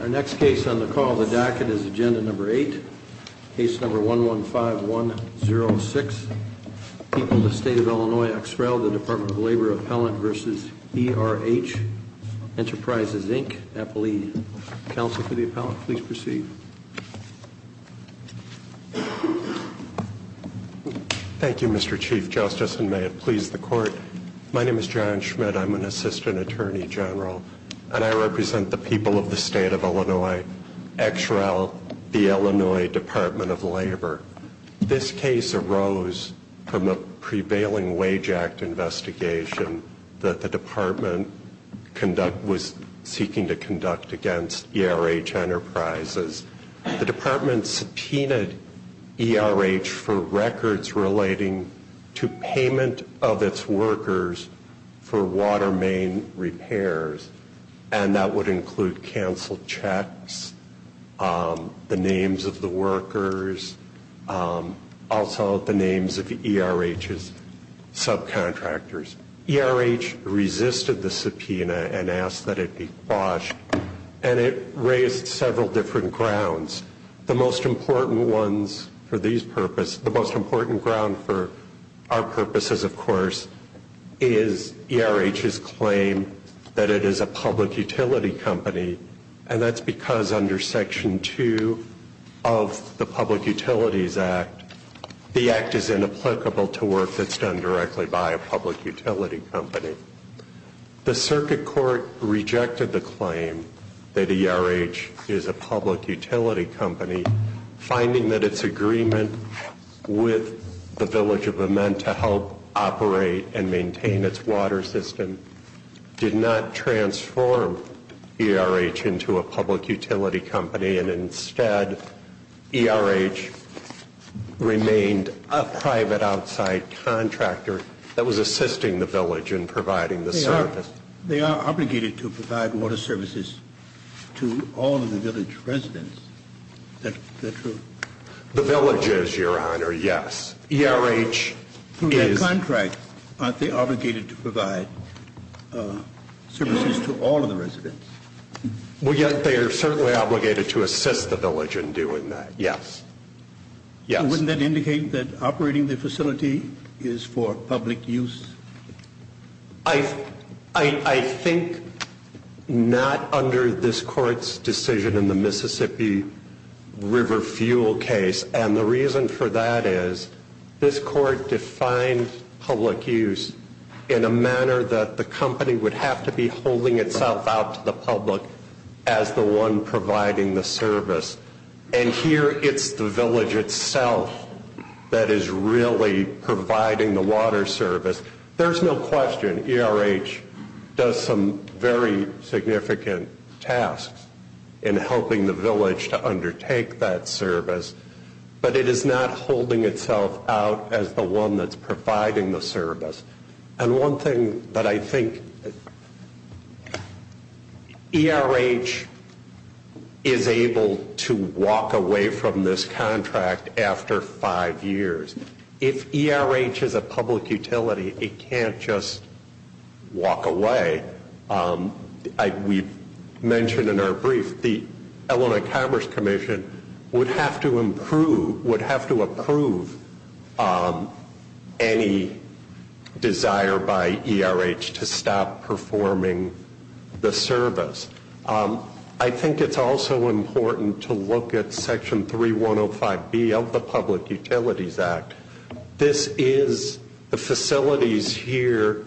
Our next case on the call of the docket is Agenda 8, Case 115-106, People of the State of Illinois ex rel. Department of Labor Appellant v. E.R.H. Enterprises, Inc. Appellee, counsel for the appellant, please proceed. Thank you, Mr. Chief Justice, and may it please the Court. My name is John Schmidt. I'm an Assistant Attorney General, and I represent the people of the State of Illinois ex rel. the Illinois Department of Labor. This case arose from a prevailing Wage Act investigation that the Department was seeking to conduct against E.R.H. Enterprises. The Department subpoenaed E.R.H. for records relating to payment of its workers for water main repairs, and that would include canceled checks, the names of the workers, also the names of E.R.H.'s subcontractors. E.R.H. resisted the subpoena and asked that it be quashed, and it raised several different grounds. The most important ones for these purposes, the most important ground for our purposes, of course, is E.R.H.'s claim that it is a public utility company, and that's because under Section 2 of the Public Utilities Act, the Act is inapplicable to work that's done directly by a public utility company. The Circuit Court rejected the claim that E.R.H. is a public utility company, finding that its agreement with the Village of Amman to help operate and maintain its water system did not transform E.R.H. into a public utility company, and instead E.R.H. remained a private outside contractor that was assisting the Village in providing the service. They are obligated to provide water services to all of the Village residents. Is that true? The Village is, Your Honor, yes. E.R.H. is. From that contract, aren't they obligated to provide services to all of the residents? Well, yes, they are certainly obligated to assist the Village in doing that, yes. And wouldn't that indicate that operating the facility is for public use? I think not under this Court's decision in the Mississippi River fuel case, and the reason for that is this Court defined public use in a manner that the company would have to be holding itself out to the public as the one providing the service. And here it's the Village itself that is really providing the water service. There's no question E.R.H. does some very significant tasks in helping the Village to undertake that service, but it is not holding itself out as the one that's providing the service. And one thing that I think E.R.H. is able to walk away from this contract after five years. If E.R.H. is a public utility, it can't just walk away. We've mentioned in our brief the Illinois Commerce Commission would have to approve any desire by E.R.H. to stop performing the service. I think it's also important to look at Section 3105B of the Public Utilities Act. This is the facilities here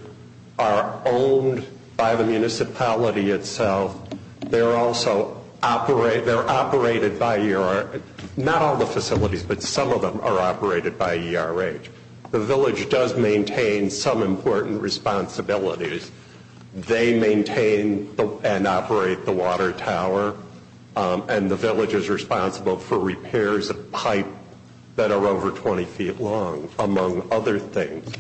are owned by the municipality itself. They're also operated by E.R.H. Not all the facilities, but some of them are operated by E.R.H. The Village does maintain some important responsibilities. They maintain and operate the water tower. And the Village is responsible for repairs of pipe that are over 20 feet long, among other things.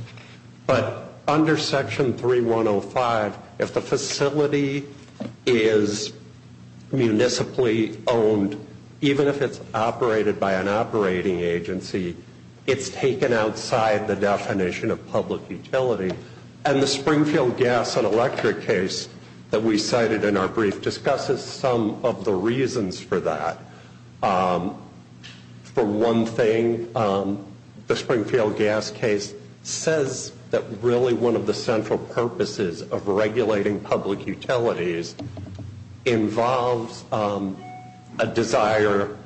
But under Section 3105, if the facility is municipally owned, even if it's operated by an operating agency, it's taken outside the definition of public utility. And the Springfield Gas and Electric case that we cited in our brief discusses some of the reasons for that. For one thing, the Springfield Gas case says that really one of the central purposes of regulating public utilities involves a desire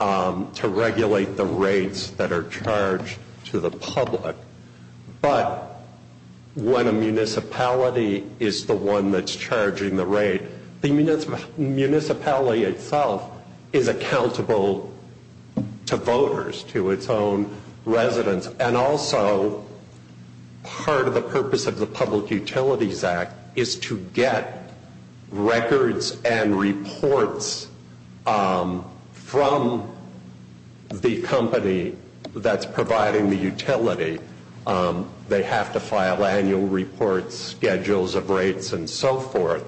to regulate the rates that are charged to the public. But when a municipality is the one that's charging the rate, the municipality itself is accountable to voters, to its own residents. And also, part of the purpose of the Public Utilities Act is to get records and reports from the company that's providing the utility. They have to file annual reports, schedules of rates, and so forth.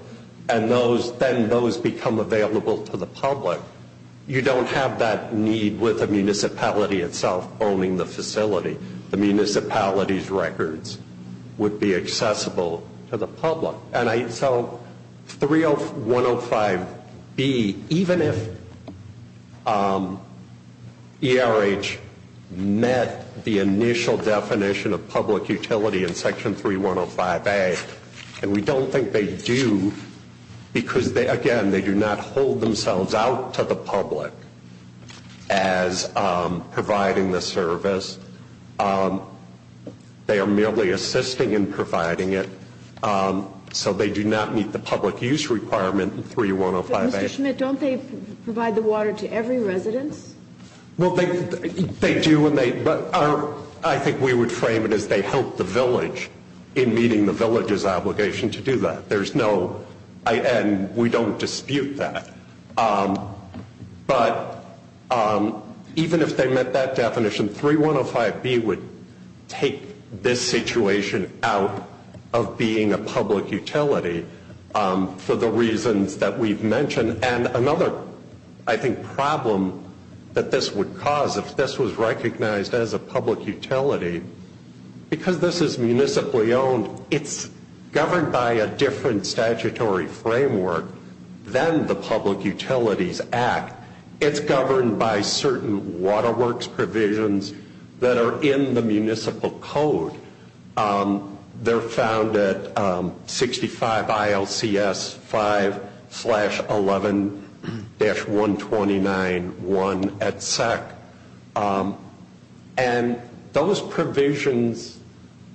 And then those become available to the public. You don't have that need with the municipality itself owning the facility. The municipality's records would be accessible to the public. And so 30105B, even if ERH met the initial definition of public utility in Section 3105A, and we don't think they do because, again, they do not hold themselves out to the public as providing the service. They are merely assisting in providing it. So they do not meet the public use requirement in 3105A. But, Mr. Schmidt, don't they provide the water to every residence? Well, they do, but I think we would frame it as they help the village in meeting the village's obligation to do that. And we don't dispute that. But even if they met that definition, 3105B would take this situation out of being a public utility for the reasons that we've mentioned. And another, I think, problem that this would cause if this was recognized as a public utility, because this is municipally owned, it's governed by a different statutory framework than the Public Utilities Act. It's governed by certain Water Works provisions that are in the municipal code. They're found at 65 ILCS 5-11-129-1 at SEC. And those provisions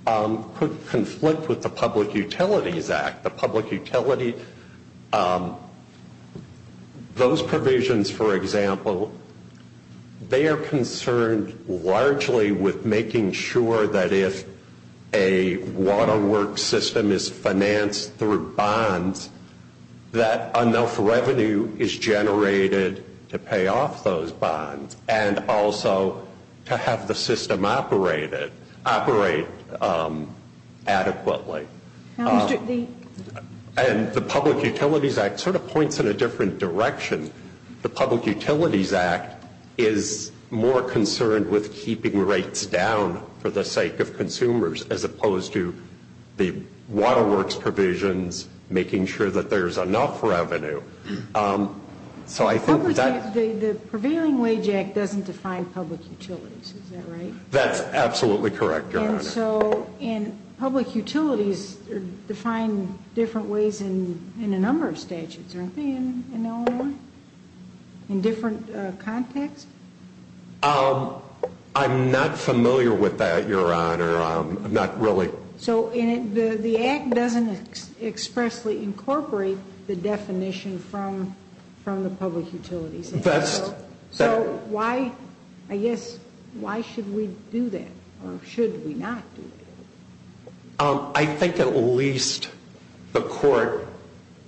could conflict with the Public Utilities Act. Those provisions, for example, they are concerned largely with making sure that if a Water Works system is financed through bonds, that enough revenue is generated to pay off those bonds and also to have the system operate adequately. And the Public Utilities Act sort of points in a different direction. The Public Utilities Act is more concerned with keeping rates down for the sake of consumers as opposed to the Water Works provisions making sure that there's enough revenue. The Prevailing Wage Act doesn't define public utilities, is that right? That's absolutely correct, Your Honor. And so public utilities are defined different ways in a number of statutes, aren't they, in Illinois, in different contexts? I'm not familiar with that, Your Honor. I'm not really. So the Act doesn't expressly incorporate the definition from the Public Utilities Act. So why, I guess, why should we do that or should we not do that? I think at least the Court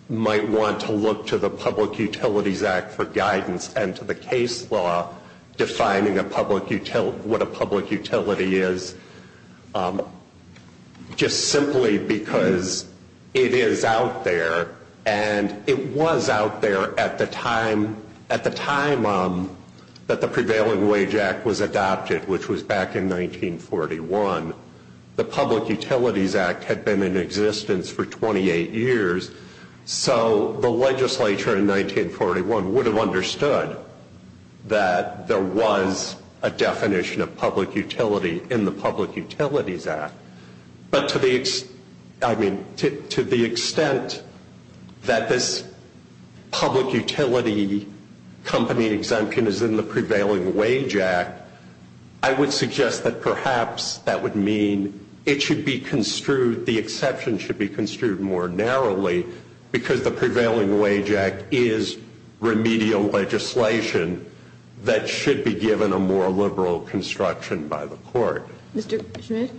might want to look to the Public Utilities Act for guidance and to the case law defining what a public utility is just simply because it is out there. And it was out there at the time that the Prevailing Wage Act was adopted, which was back in 1941. The Public Utilities Act had been in existence for 28 years. So the legislature in 1941 would have understood that there was a definition of public utility in the Public Utilities Act. But to the extent that this public utility company exemption is in the Prevailing Wage Act, I would suggest that perhaps that would mean it should be construed, the exception should be construed more narrowly because the Prevailing Wage Act is remedial legislation that should be given a more liberal construction by the Court. Mr. Schmidt,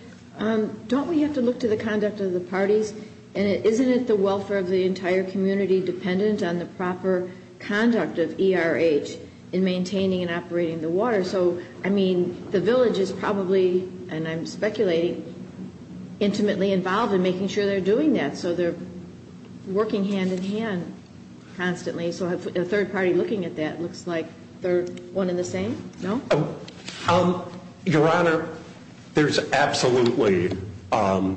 don't we have to look to the conduct of the parties? And isn't it the welfare of the entire community dependent on the proper conduct of ERH in maintaining and operating the water? So, I mean, the village is probably, and I'm speculating, intimately involved in making sure they're doing that. So they're working hand in hand constantly. So a third party looking at that looks like they're one and the same, no? Your Honor, there's absolutely a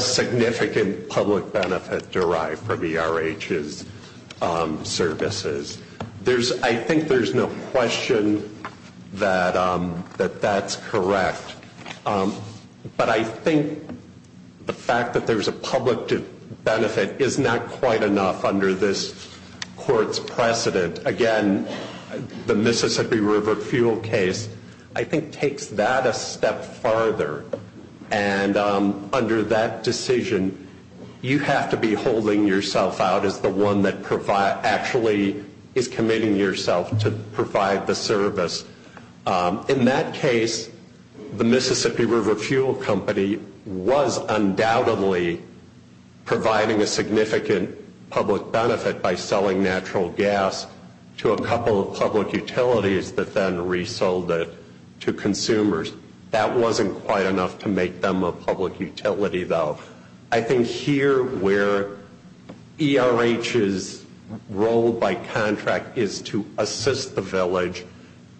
significant public benefit derived from ERH's services. I think there's no question that that's correct. But I think the fact that there's a public benefit is not quite enough under this Court's precedent. Again, the Mississippi River fuel case, I think, takes that a step farther. And under that decision, you have to be holding yourself out as the one that actually is committing yourself to provide the service. In that case, the Mississippi River fuel company was undoubtedly providing a significant public benefit by selling natural gas to a couple of public utilities that then resold it to consumers. That wasn't quite enough to make them a public utility, though. I think here where ERH's role by contract is to assist the village,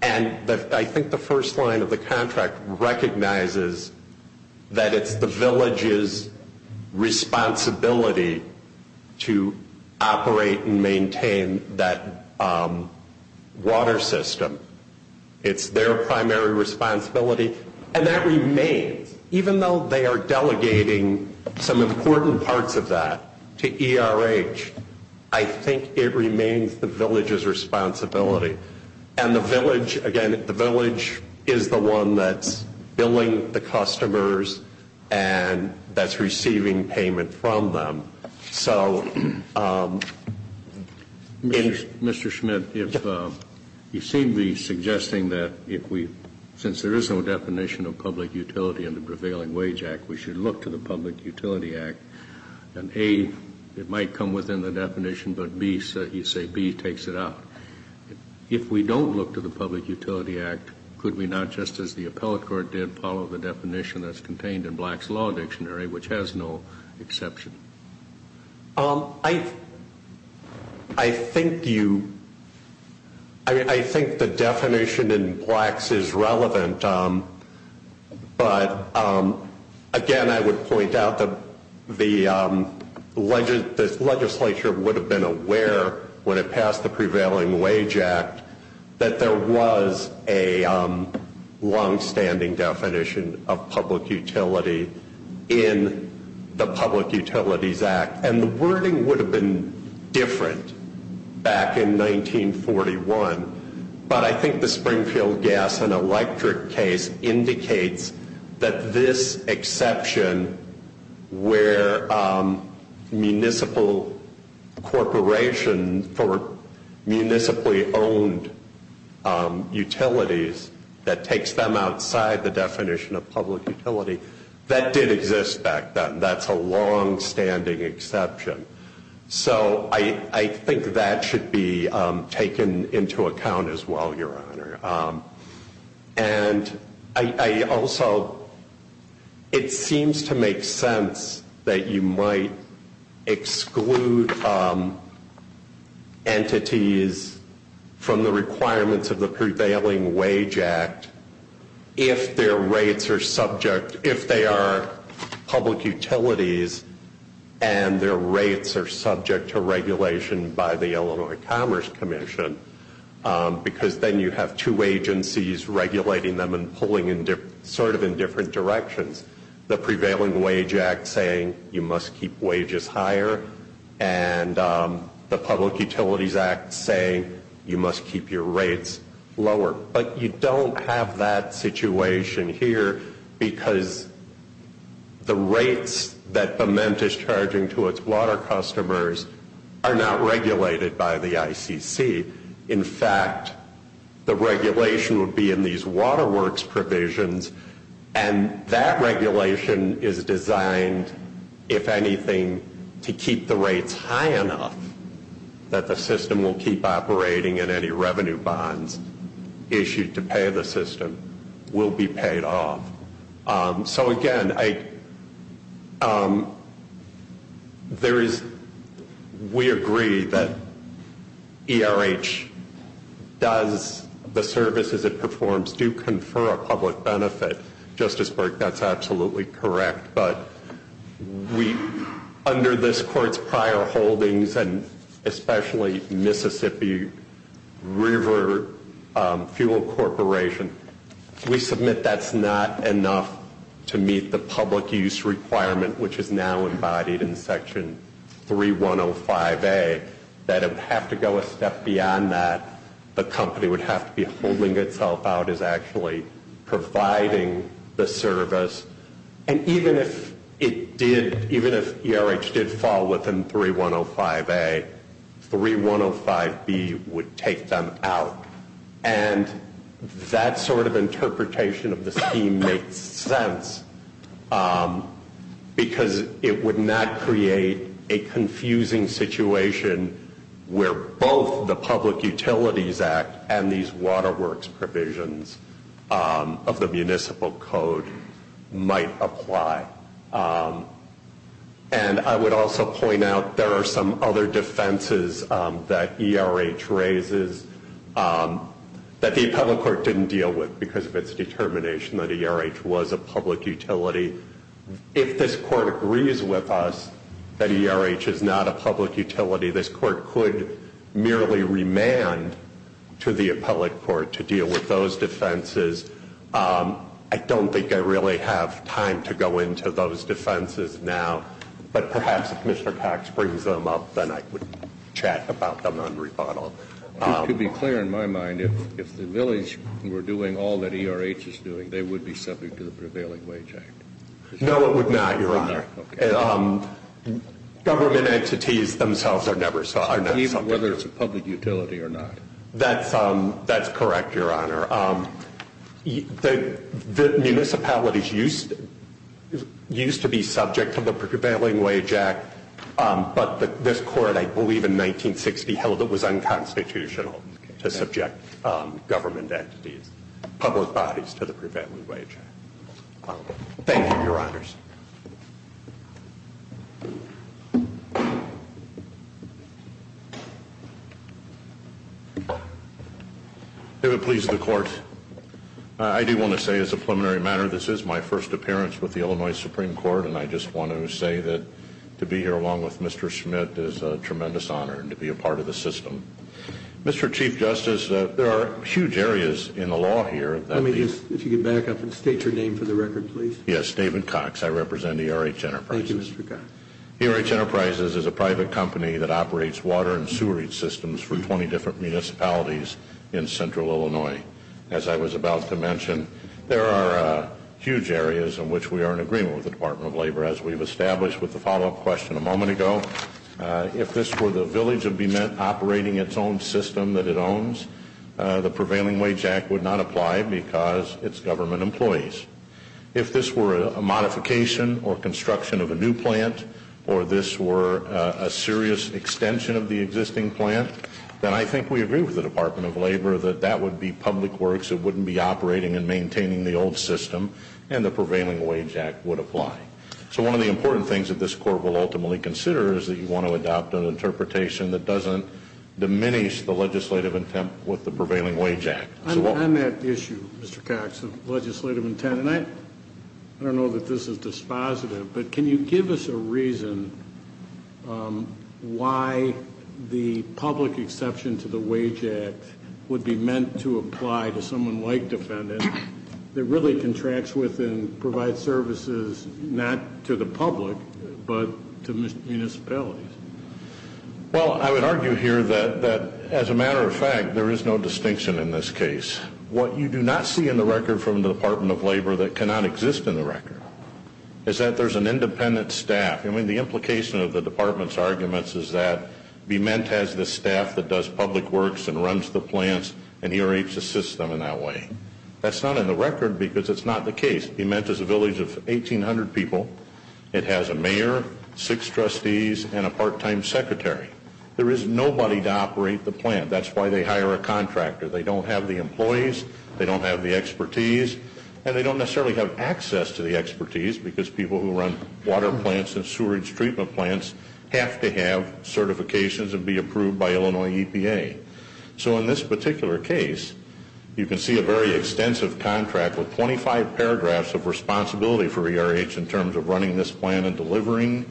and I think the first line of the contract recognizes that it's the village's responsibility to operate and maintain that water system. It's their primary responsibility. And that remains. Even though they are delegating some important parts of that to ERH, I think it remains the village's responsibility. And the village, again, the village is the one that's billing the customers and that's receiving payment from them. Mr. Schmidt, you seem to be suggesting that since there is no definition of public utility in the Prevailing Wage Act, we should look to the Public Utility Act, and A, it might come within the definition, but you say B takes it out. If we don't look to the Public Utility Act, could we not, just as the appellate court did, follow the definition that's contained in Black's Law Dictionary, which has no exception? I think the definition in Black's is relevant, but again, I would point out that the legislature would have been aware when it passed the Prevailing Wage Act that there was a longstanding definition of public utility in the Public Utilities Act. And the wording would have been different back in 1941, but I think the Springfield Gas and Electric case indicates that this exception, where municipal corporation for municipally owned utilities that takes them outside the definition of public utility, that did exist back then. That's a longstanding exception. So I think that should be taken into account as well, Your Honor. And also, it seems to make sense that you might exclude entities from the requirements of the Prevailing Wage Act if their rates are subject, if they are public utilities, and their rates are subject to regulation by the Illinois Commerce Commission, because then you have two agencies regulating them and pulling sort of in different directions. The Prevailing Wage Act saying you must keep wages higher, and the Public Utilities Act saying you must keep your rates lower. But you don't have that situation here, because the rates that PEMENT is charging to its water customers are not regulated by the ICC. In fact, the regulation would be in these Water Works provisions, and that regulation is designed, if anything, to keep the rates high enough that the system will keep operating and any revenue bonds issued to pay the system will be paid off. So again, we agree that ERH does the services it performs do confer a public benefit. Justice Burke, that's absolutely correct. But under this Court's prior holdings, and especially Mississippi River Fuel Corporation, we submit that's not enough to meet the public use requirement, which is now embodied in Section 3105A, that it would have to go a step beyond that. The company would have to be holding itself out as actually providing the service. And even if ERH did fall within 3105A, 3105B would take them out. And that sort of interpretation of the scheme makes sense, because it would not create a confusing situation where both the Public Utilities Act and these Water Works provisions of the Municipal Code might apply. And I would also point out there are some other defenses that ERH raises that the Appellate Court didn't deal with because of its determination that ERH was a public utility. If this Court agrees with us that ERH is not a public utility, this Court could merely remand to the Appellate Court to deal with those defenses. I don't think I really have time to go into those defenses now, but perhaps if Commissioner Cox brings them up, then I could chat about them on rebuttal. It would be clear in my mind if the village were doing all that ERH is doing, they would be subject to the prevailing wage act. No, it would not, Your Honor. Government entities themselves are never subject. Even whether it's a public utility or not. That's correct, Your Honor. The municipalities used to be subject to the prevailing wage act, but this Court, I believe, in 1960 held it was unconstitutional to subject government entities, public bodies, to the prevailing wage act. Thank you, Your Honors. David, please, to the Court. I do want to say, as a preliminary matter, this is my first appearance with the Illinois Supreme Court, and I just want to say that to be here along with Mr. Schmidt is a tremendous honor and to be a part of the system. Mr. Chief Justice, there are huge areas in the law here. Let me just, if you could back up and state your name for the record, please. Yes, David Cox. Yes, I represent ERH Enterprises. Thank you, Mr. Cox. ERH Enterprises is a private company that operates water and sewerage systems for 20 different municipalities in central Illinois. As I was about to mention, there are huge areas in which we are in agreement with the Department of Labor, as we've established with the follow-up question a moment ago. If this were the village that would be operating its own system that it owns, the prevailing wage act would not apply because it's government employees. If this were a modification or construction of a new plant or this were a serious extension of the existing plant, then I think we agree with the Department of Labor that that would be public works. It wouldn't be operating and maintaining the old system, and the prevailing wage act would apply. So one of the important things that this court will ultimately consider is that you want to adopt an interpretation that doesn't diminish the legislative intent with the prevailing wage act. On that issue, Mr. Cox, of legislative intent, and I don't know that this is dispositive, but can you give us a reason why the public exception to the wage act would be meant to apply to someone like Defendant that really contracts with and provides services not to the public, but to municipalities? Well, I would argue here that, as a matter of fact, there is no distinction in this case. What you do not see in the record from the Department of Labor that cannot exist in the record is that there's an independent staff. I mean, the implication of the Department's arguments is that BeMent has this staff that does public works and runs the plants, and he or she assists them in that way. That's not in the record because it's not the case. BeMent is a village of 1,800 people. It has a mayor, six trustees, and a part-time secretary. There is nobody to operate the plant. That's why they hire a contractor. They don't have the employees, they don't have the expertise, and they don't necessarily have access to the expertise because people who run water plants and sewerage treatment plants have to have certifications and be approved by Illinois EPA. So in this particular case, you can see a very extensive contract with 25 paragraphs of responsibility for ERH in terms of running this plant and delivering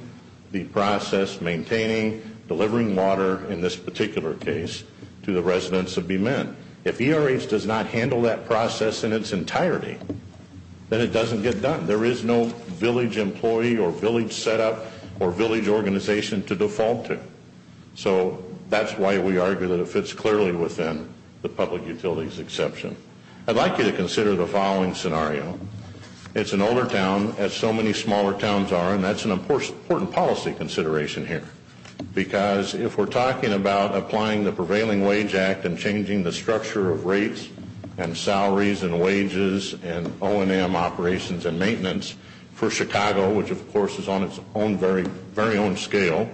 the process, maintaining, delivering water in this particular case to the residents of BeMent. If ERH does not handle that process in its entirety, then it doesn't get done. There is no village employee or village setup or village organization to default to. So that's why we argue that it fits clearly within the public utilities exception. I'd like you to consider the following scenario. It's an older town, as so many smaller towns are, and that's an important policy consideration here because if we're talking about applying the Prevailing Wage Act and changing the structure of rates and salaries and wages and O&M operations and maintenance for Chicago, which of course is on its very own scale,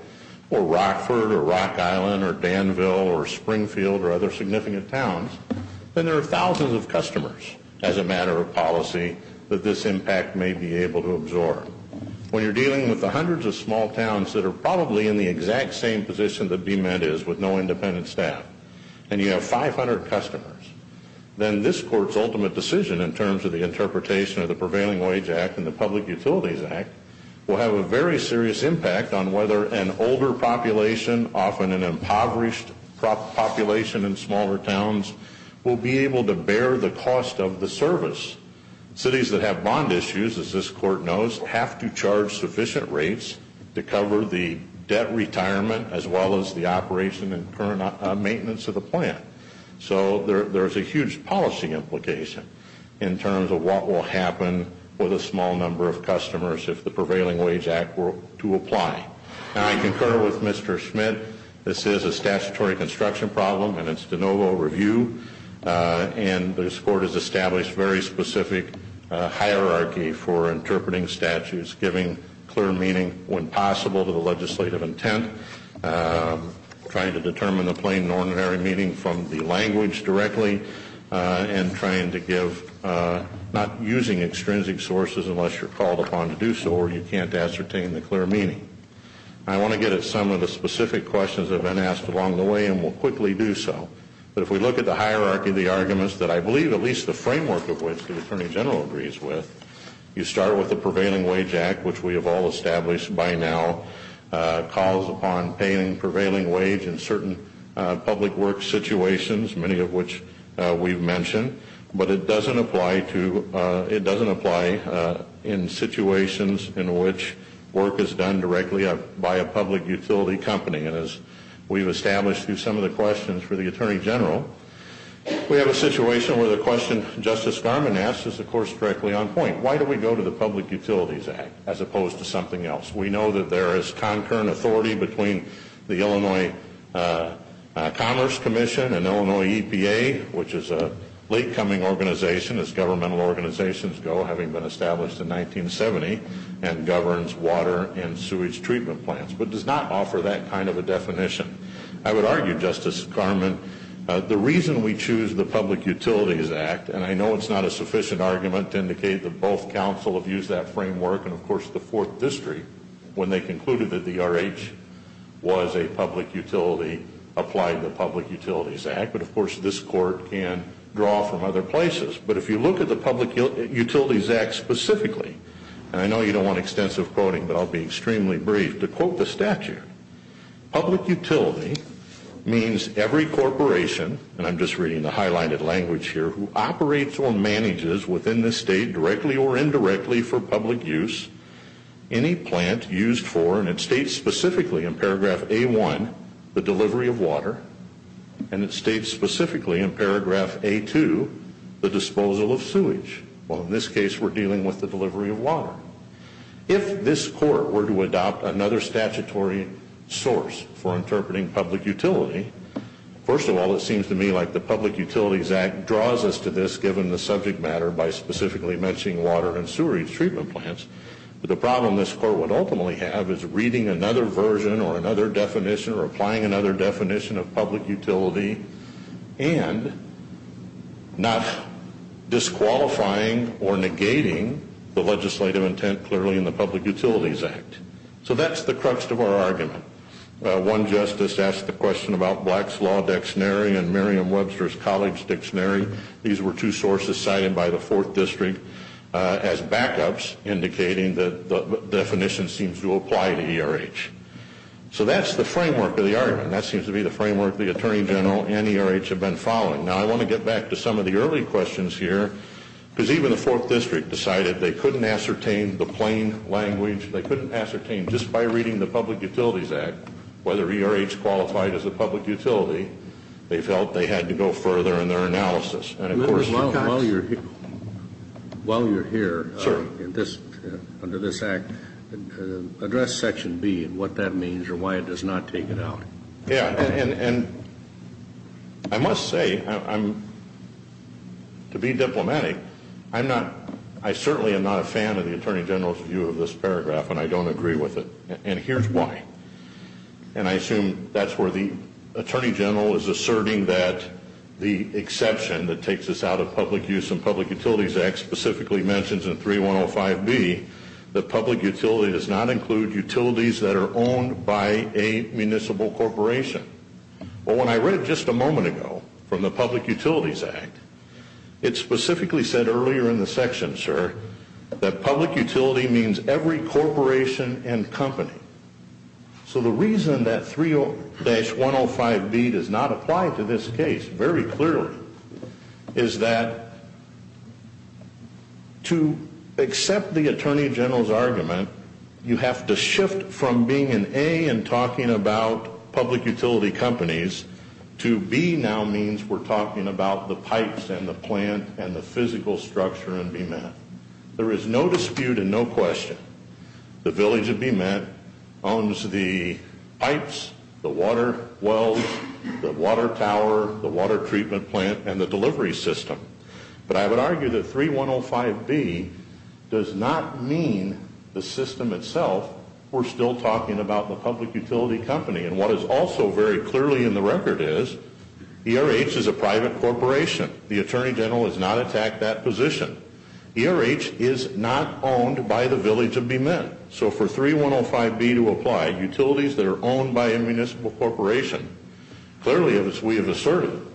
or Rockford or Rock Island or Danville or Springfield or other significant towns, then there are thousands of customers as a matter of policy that this impact may be able to absorb. When you're dealing with the hundreds of small towns that are probably in the exact same position that BeMent is with no independent staff, and you have 500 customers, then this Court's ultimate decision in terms of the interpretation of the Prevailing Wage Act and the Public Utilities Act will have a very serious impact on whether an older population, often an impoverished population in smaller towns, will be able to bear the cost of the service. Cities that have bond issues, as this Court knows, have to charge sufficient rates to cover the debt retirement as well as the operation and current maintenance of the plant. So there's a huge policy implication in terms of what will happen with a small number of customers if the Prevailing Wage Act were to apply. I concur with Mr. Schmidt. This is a statutory construction problem, and it's de novo review, and this Court has established very specific hierarchy for interpreting statutes, giving clear meaning when possible to the legislative intent, trying to determine the plain and ordinary meaning from the language directly, and trying to give, not using extrinsic sources unless you're called upon to do so or you can't ascertain the clear meaning. I want to get at some of the specific questions that have been asked along the way, and we'll quickly do so. But if we look at the hierarchy of the arguments that I believe at least the framework of which the Attorney General agrees with, you start with the Prevailing Wage Act, which we have all established by now, many of which we've mentioned, but it doesn't apply in situations in which work is done directly by a public utility company. And as we've established through some of the questions for the Attorney General, we have a situation where the question Justice Garmon asked is, of course, directly on point. Why do we go to the Public Utilities Act as opposed to something else? We know that there is concurrent authority between the Illinois Commerce Commission and Illinois EPA, which is a late-coming organization, as governmental organizations go, having been established in 1970, and governs water and sewage treatment plants, but does not offer that kind of a definition. I would argue, Justice Garmon, the reason we choose the Public Utilities Act, and I know it's not a sufficient argument to indicate that both counsel have used that framework, and of course the Fourth District, when they concluded that the RH was a public utility, applied the Public Utilities Act, but of course this Court can draw from other places. But if you look at the Public Utilities Act specifically, and I know you don't want extensive quoting, but I'll be extremely brief, to quote the statute, public utility means every corporation, and I'm just reading the highlighted language here, who operates or manages within this state, directly or indirectly, for public use, any plant used for, and it states specifically in paragraph A-1, the delivery of water, and it states specifically in paragraph A-2, the disposal of sewage. Well in this case we're dealing with the delivery of water. If this Court were to adopt another statutory source for interpreting public utility, first of all it seems to me like the Public Utilities Act draws us to this given the subject matter by specifically mentioning water and sewerage treatment plants, but the problem this Court would ultimately have is reading another version or another definition or applying another definition of public utility and not disqualifying or negating the legislative intent clearly in the Public Utilities Act. So that's the crux of our argument. One justice asked the question about Black's Law Dictionary and Merriam-Webster's College Dictionary. These were two sources cited by the Fourth District as backups indicating that the definition seems to apply to ERH. So that's the framework of the argument. That seems to be the framework the Attorney General and ERH have been following. Now I want to get back to some of the early questions here because even the Fourth District decided they couldn't ascertain the plain language, they couldn't ascertain just by reading the Public Utilities Act whether ERH qualified as a public utility. They felt they had to go further in their analysis. Members, while you're here under this Act, address Section B and what that means or why it does not take it out. Yeah, and I must say, to be diplomatic, I certainly am not a fan of the Attorney General's view of this paragraph and I don't agree with it, and here's why. And I assume that's where the Attorney General is asserting that the exception that takes us out of Public Use and Public Utilities Act specifically mentions in 3105B that public utility does not include utilities that are owned by a municipal corporation. But when I read just a moment ago from the Public Utilities Act, it specifically said earlier in the section, sir, that public utility means every corporation and company. So the reason that 3105B does not apply to this case very clearly is that to accept the Attorney General's argument, you have to shift from being in A and talking about public utility companies to B now means we're talking about the pipes and the plant and the physical structure in BMET. There is no dispute and no question. The village of BMET owns the pipes, the water wells, the water tower, the water treatment plant, and the delivery system. But I would argue that 3105B does not mean the system itself. We're still talking about the public utility company. And what is also very clearly in the record is ERH is a private corporation. The Attorney General has not attacked that position. ERH is not owned by the village of BMET. So for 3105B to apply, utilities that are owned by a municipal corporation, clearly as we have asserted,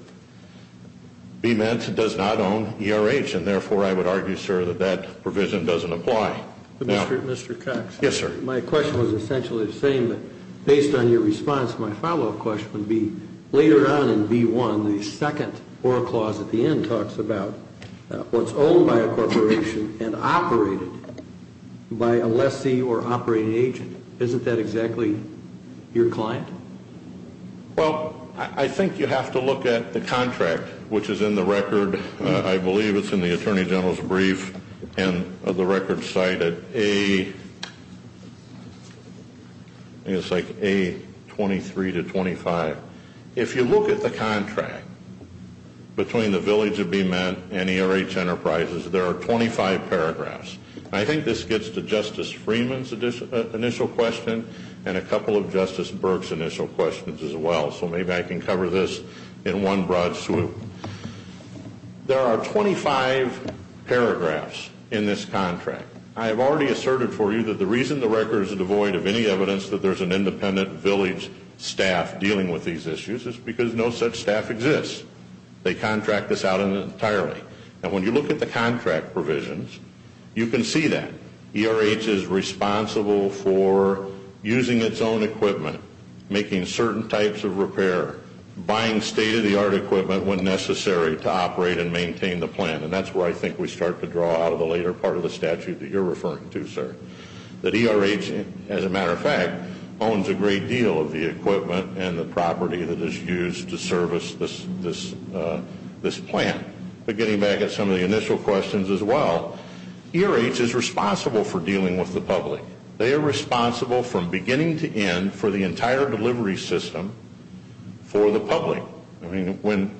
BMET does not own ERH, and therefore I would argue, sir, that that provision doesn't apply. Mr. Cox. Yes, sir. My question was essentially the same, but based on your response, my follow-up question would be later on in B1, the second oral clause at the end talks about what's owned by a corporation and operated by a lessee or operating agent. Isn't that exactly your client? Well, I think you have to look at the contract, which is in the record. I believe it's in the Attorney General's brief, and the record cited A23 to 25. If you look at the contract between the village of BMET and ERH Enterprises, there are 25 paragraphs. I think this gets to Justice Freeman's initial question and a couple of Justice Burke's initial questions as well, so maybe I can cover this in one broad swoop. There are 25 paragraphs in this contract. I have already asserted for you that the reason the record is devoid of any evidence that there's an independent village staff dealing with these issues is because no such staff exists. They contract this out entirely. And when you look at the contract provisions, you can see that. ERH is responsible for using its own equipment, making certain types of repair, buying state-of-the-art equipment when necessary to operate and maintain the plant, and that's where I think we start to draw out of the later part of the statute that you're referring to, sir. That ERH, as a matter of fact, owns a great deal of the equipment and the property that is used to service this plant. But getting back at some of the initial questions as well, ERH is responsible for dealing with the public. They are responsible from beginning to end for the entire delivery system for the public. I mean, when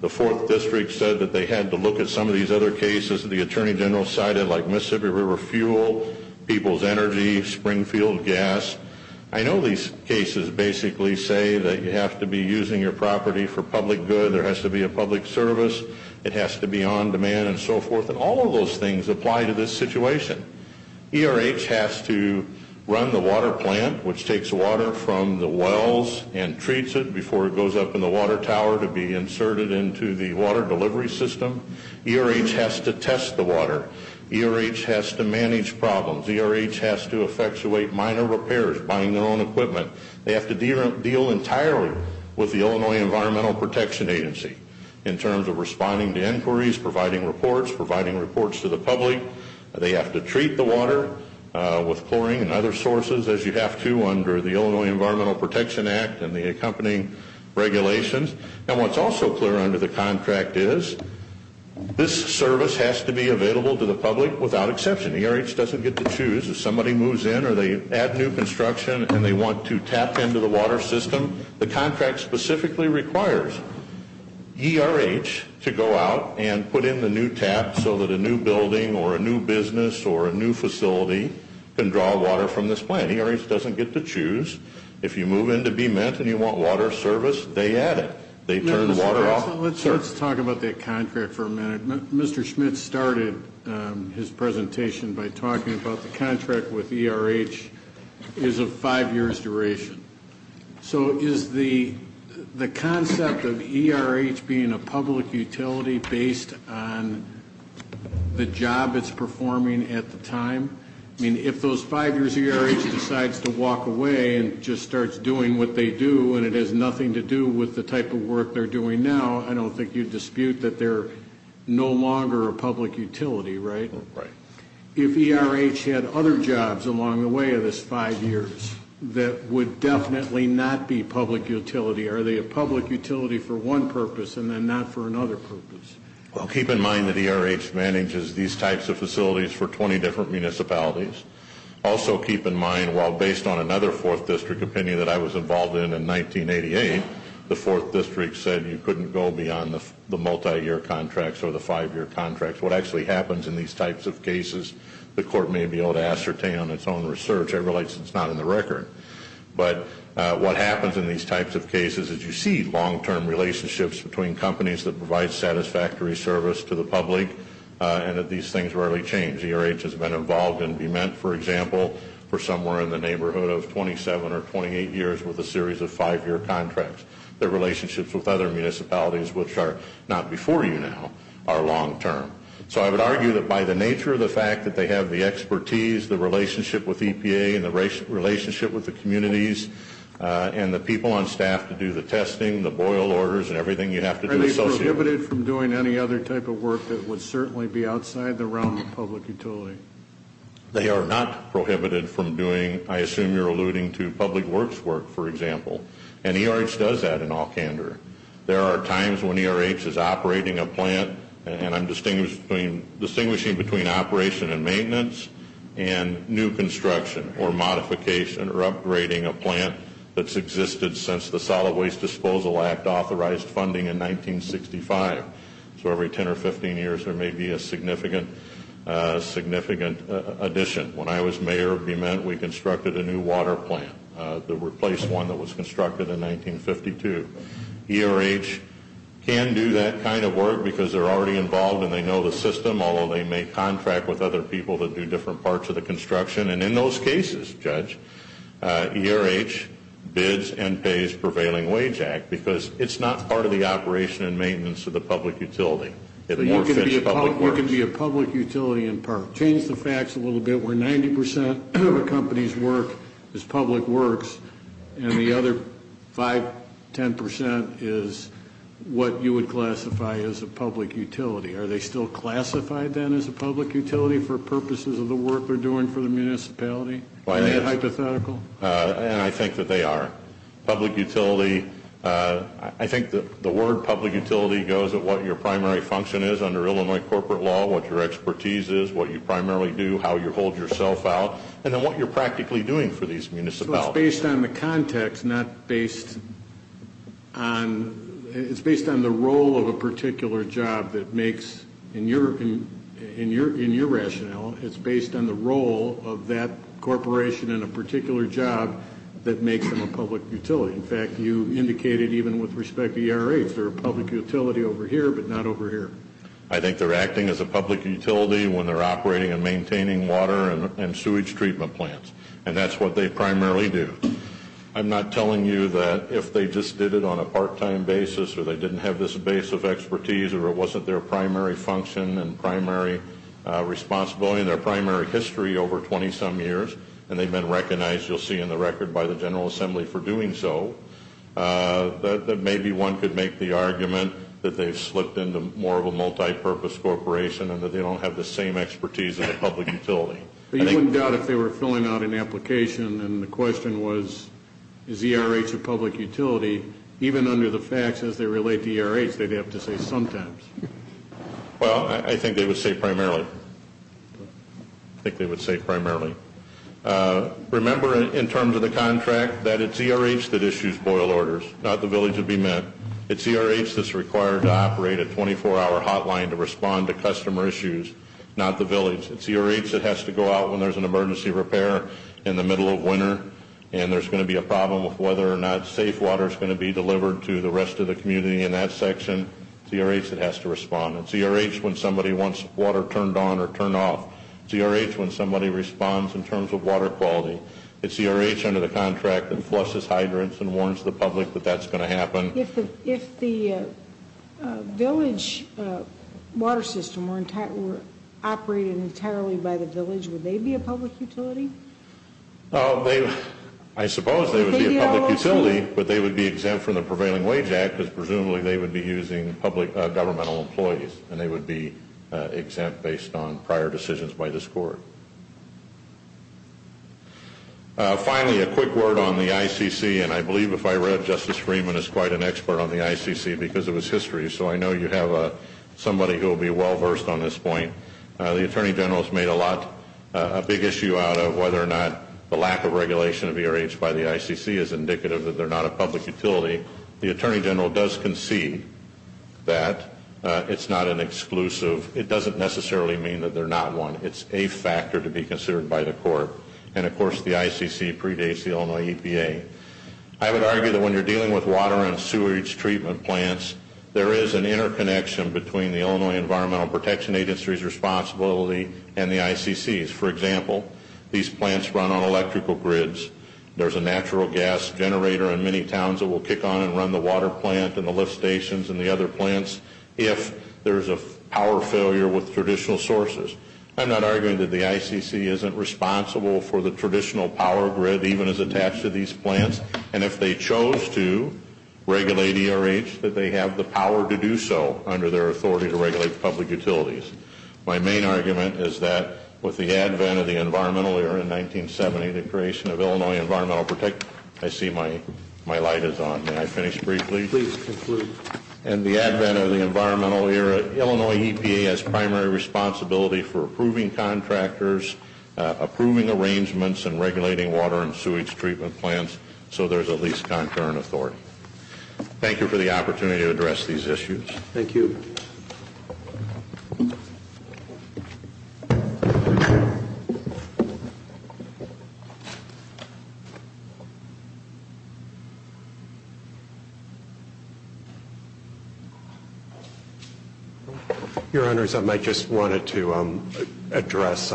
the 4th District said that they had to look at some of these other cases that the Attorney General cited like Mississippi River Fuel, People's Energy, Springfield Gas, I know these cases basically say that you have to be using your property for public good, there has to be a public service, it has to be on demand and so forth, and all of those things apply to this situation. ERH has to run the water plant, which takes water from the wells and treats it before it goes up in the water tower to be inserted into the water delivery system. ERH has to test the water. ERH has to manage problems. ERH has to effectuate minor repairs, buying their own equipment. They have to deal entirely with the Illinois Environmental Protection Agency in terms of responding to inquiries, providing reports, providing reports to the public. They have to treat the water with chlorine and other sources as you have to under the Illinois Environmental Protection Act and the accompanying regulations. And what's also clear under the contract is this service has to be available to the public without exception. ERH doesn't get to choose. If somebody moves in or they add new construction and they want to tap into the water system, the contract specifically requires ERH to go out and put in the new tap so that a new building or a new business or a new facility can draw water from this plant. ERH doesn't get to choose. If you move in to be met and you want water service, they add it. They turn the water off. Let's talk about the contract for a minute. Mr. Schmidt started his presentation by talking about the contract with ERH is of five years duration. So is the concept of ERH being a public utility based on the job it's performing at the time? I mean, if those five years ERH decides to walk away and just starts doing what they do and it has nothing to do with the type of work they're doing now, I don't think you'd dispute that they're no longer a public utility, right? Right. If ERH had other jobs along the way of this five years that would definitely not be public utility, are they a public utility for one purpose and then not for another purpose? Well, keep in mind that ERH manages these types of facilities for 20 different municipalities. Also keep in mind while based on another fourth district opinion that I was involved in in 1988, the fourth district said you couldn't go beyond the multi-year contracts or the five-year contracts. What actually happens in these types of cases, the court may be able to ascertain on its own research. I realize it's not in the record. But what happens in these types of cases is you see long-term relationships between companies that provide satisfactory service to the public and that these things rarely change. ERH has been involved in Vement, for example, for somewhere in the neighborhood of 27 or 28 years with a series of five-year contracts. Their relationships with other municipalities, which are not before you now, are long-term. So I would argue that by the nature of the fact that they have the expertise, the relationship with EPA and the relationship with the communities and the people on staff to do the testing, the boil orders and everything you have to do associated with it. Are they prohibited from doing any other type of work that would certainly be outside the realm of public utility? They are not prohibited from doing, I assume you're alluding to public works work, for example. And ERH does that in all candor. There are times when ERH is operating a plant, and I'm distinguishing between operation and maintenance and new construction or modification or upgrading a plant that's existed since the Solid Waste Disposal Act authorized funding in 1965. So every 10 or 15 years there may be a significant addition. When I was mayor of Vement, we constructed a new water plant. They replaced one that was constructed in 1952. ERH can do that kind of work because they're already involved and they know the system, although they may contract with other people that do different parts of the construction. And in those cases, Judge, ERH bids and pays prevailing wage act because it's not part of the operation and maintenance of the public utility. It more fits public works. You're going to be a public utility in part. Change the facts a little bit where 90 percent of a company's work is public works and the other 5, 10 percent is what you would classify as a public utility. Are they still classified then as a public utility for purposes of the work they're doing for the municipality? Are they hypothetical? And I think that they are. Public utility, I think the word public utility goes at what your primary function is under Illinois corporate law, what your expertise is, what you primarily do, how you hold yourself out, and then what you're practically doing for these municipalities. It's based on the context, not based on the role of a particular job that makes, in your rationale, it's based on the role of that corporation in a particular job that makes them a public utility. In fact, you indicated even with respect to ERH, they're a public utility over here but not over here. I think they're acting as a public utility when they're operating and maintaining water and sewage treatment plants. And that's what they primarily do. I'm not telling you that if they just did it on a part-time basis or they didn't have this base of expertise or it wasn't their primary function and primary responsibility and their primary history over 20-some years and they've been recognized, you'll see in the record, by the General Assembly for doing so, that maybe one could make the argument that they've slipped into more of a multipurpose corporation and that they don't have the same expertise as a public utility. You wouldn't doubt if they were filling out an application and the question was, is ERH a public utility? Even under the facts, as they relate to ERH, they'd have to say sometimes. Well, I think they would say primarily. I think they would say primarily. Remember, in terms of the contract, that it's ERH that issues boil orders, not the village to be met. It's ERH that's required to operate a 24-hour hotline to respond to customer issues, not the village. It's ERH that has to go out when there's an emergency repair in the middle of winter and there's going to be a problem with whether or not safe water is going to be delivered to the rest of the community in that section. It's ERH that has to respond. It's ERH when somebody wants water turned on or turned off. It's ERH when somebody responds in terms of water quality. It's ERH under the contract that flushes hydrants and warns the public that that's going to happen. If the village water system were operated entirely by the village, would they be a public utility? I suppose they would be a public utility, but they would be exempt from the Prevailing Wage Act because presumably they would be using governmental employees, and they would be exempt based on prior decisions by this court. Finally, a quick word on the ICC, and I believe if I read, Justice Freeman is quite an expert on the ICC because of his history, so I know you have somebody who will be well-versed on this point. The Attorney General has made a big issue out of whether or not the lack of regulation of ERH by the ICC is indicative that they're not a public utility. The Attorney General does concede that it's not an exclusive. It doesn't necessarily mean that they're not one. It's a factor to be considered by the court. And, of course, the ICC predates the Illinois EPA. I would argue that when you're dealing with water and sewage treatment plants, there is an interconnection between the Illinois Environmental Protection Agency's responsibility and the ICC's. For example, these plants run on electrical grids. There's a natural gas generator in many towns that will kick on and run the water plant and the lift stations and the other plants if there's a power failure with traditional sources. I'm not arguing that the ICC isn't responsible for the traditional power grid even as attached to these plants, and if they chose to regulate ERH, that they have the power to do so under their authority to regulate public utilities. My main argument is that with the advent of the environmental era in 1970, the creation of Illinois Environmental Protection, I see my light is on. May I finish briefly? Please conclude. In the advent of the environmental era, Illinois EPA has primary responsibility for approving contractors, approving arrangements, and regulating water and sewage treatment plants so there's at least concurrent authority. Thank you for the opportunity to address these issues. Thank you. Your Honors, I just wanted to address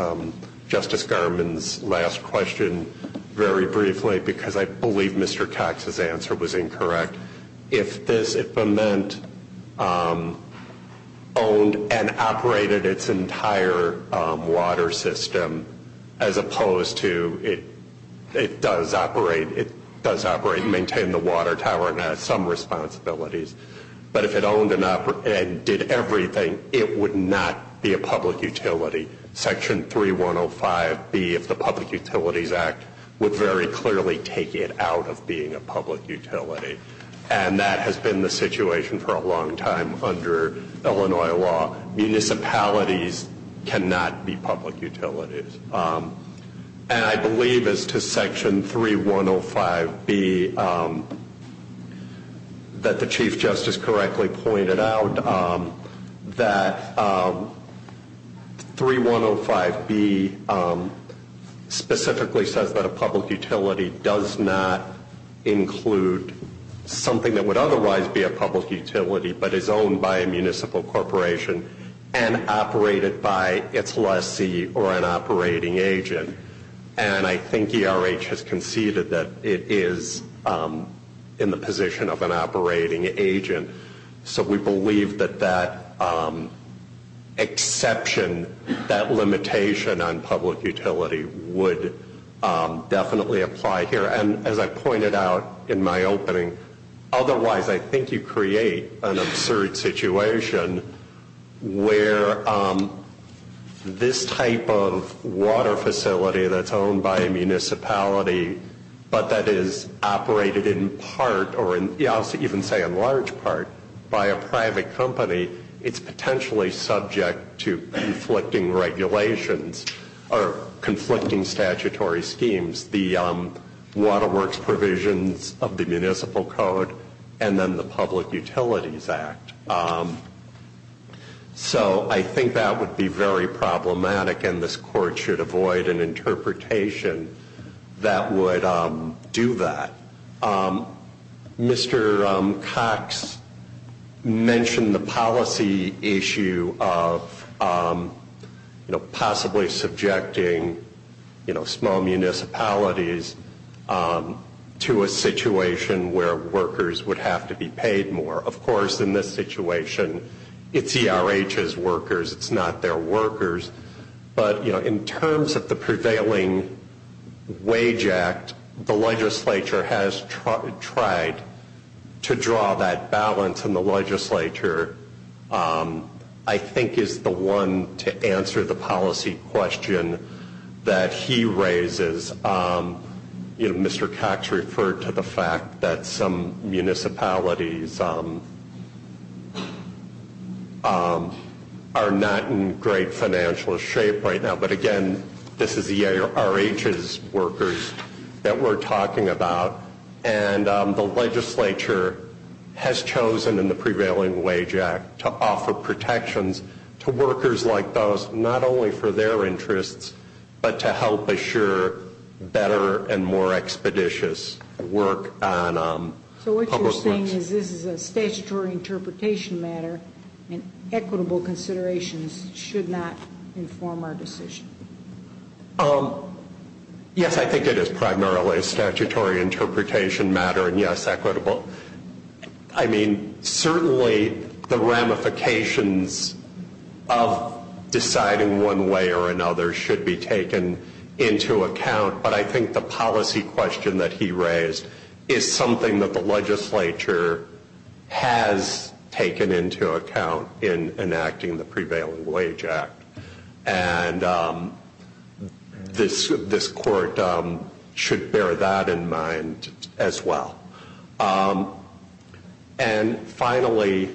Justice Garmon's last question very briefly because I believe Mr. Cox's answer was incorrect. If this implement owned and operated its entire water system as opposed to it does operate, it has some responsibilities, but if it owned and did everything, it would not be a public utility. Section 3105B of the Public Utilities Act would very clearly take it out of being a public utility, and that has been the situation for a long time under Illinois law. Municipalities cannot be public utilities. And I believe as to Section 3105B, that the Chief Justice correctly pointed out, that 3105B specifically says that a public utility does not include something that would otherwise be a public utility but is owned by a municipal corporation and operated by its lessee or an operating agent. And I think ERH has conceded that it is in the position of an operating agent, so we believe that that exception, that limitation on public utility would definitely apply here. And as I pointed out in my opening, otherwise I think you create an absurd situation where this type of water facility that's owned by a municipality but that is operated in part, or I'll even say in large part, by a private company, it's potentially subject to conflicting regulations or conflicting statutory schemes. The Water Works Provisions of the Municipal Code and then the Public Utilities Act. So I think that would be very problematic, and this Court should avoid an interpretation that would do that. Mr. Cox mentioned the policy issue of possibly subjecting small municipalities to a situation where workers would have to be paid more. Of course, in this situation, it's ERH's workers, it's not their workers. But, you know, in terms of the prevailing wage act, the legislature has tried to draw that balance, and the legislature I think is the one to answer the policy question that he raises. Mr. Cox referred to the fact that some municipalities are not in great financial shape right now, but again, this is ERH's workers that we're talking about, and the legislature has chosen in the prevailing wage act to offer protections to workers like those, not only for their interests, but to help assure better and more expeditious work on public works. So what you're saying is this is a statutory interpretation matter, and equitable considerations should not inform our decision? Yes, I think it is primarily a statutory interpretation matter, and yes, equitable. I mean, certainly the ramifications of deciding one way or another should be taken into account, but I think the policy question that he raised is something that the legislature has taken into account in enacting the prevailing wage act, and this court should bear that in mind as well. And finally,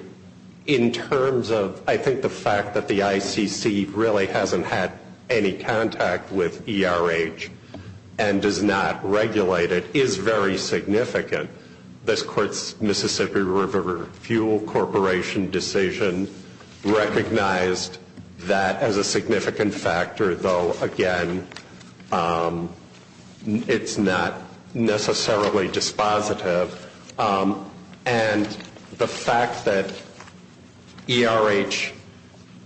in terms of I think the fact that the ICC really hasn't had any contact with ERH and does not regulate it is very significant. This court's Mississippi River Fuel Corporation decision recognized that as a significant factor, though again, it's not necessarily dispositive, and the fact that ERH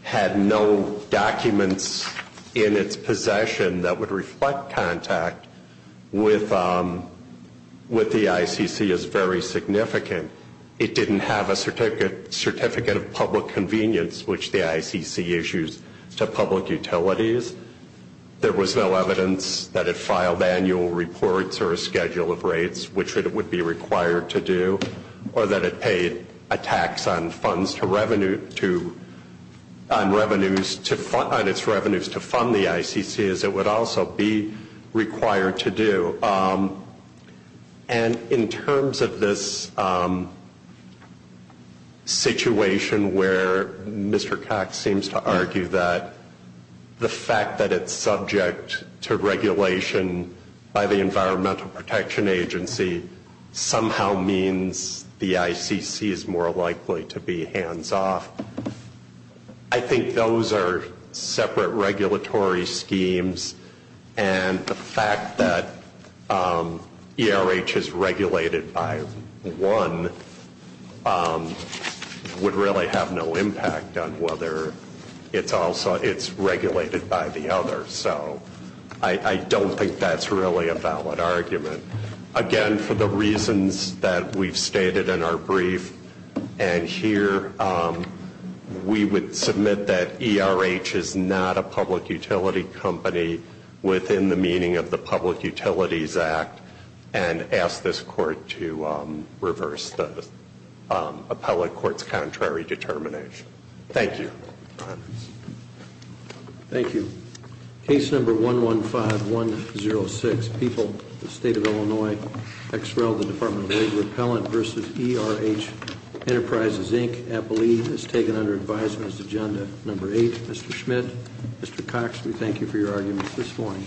had no documents in its possession that would reflect contact with the ICC is very significant. It didn't have a certificate of public convenience, which the ICC issues to public utilities. There was no evidence that it filed annual reports or a schedule of rates, which it would be required to do, or that it paid a tax on its revenues to fund the ICC, as it would also be required to do. And in terms of this situation where Mr. Cox seems to argue that the fact that it's subject to regulation by the Environmental Protection Agency somehow means the ICC is more likely to be hands-off, I think those are separate regulatory schemes, and the fact that ERH is regulated by one would really have no impact on whether it's regulated by the other. So I don't think that's really a valid argument. Again, for the reasons that we've stated in our brief, and here we would submit that ERH is not a public utility company within the meaning of the Public Utilities Act, and ask this court to reverse the appellate court's contrary determination. Thank you. Thank you. Case number 115106, People, the State of Illinois, XREL, the Department of Labor Appellant v. ERH Enterprises, Inc., appellee is taken under advisement as agenda number 8. Mr. Schmidt, Mr. Cox, we thank you for your arguments this morning.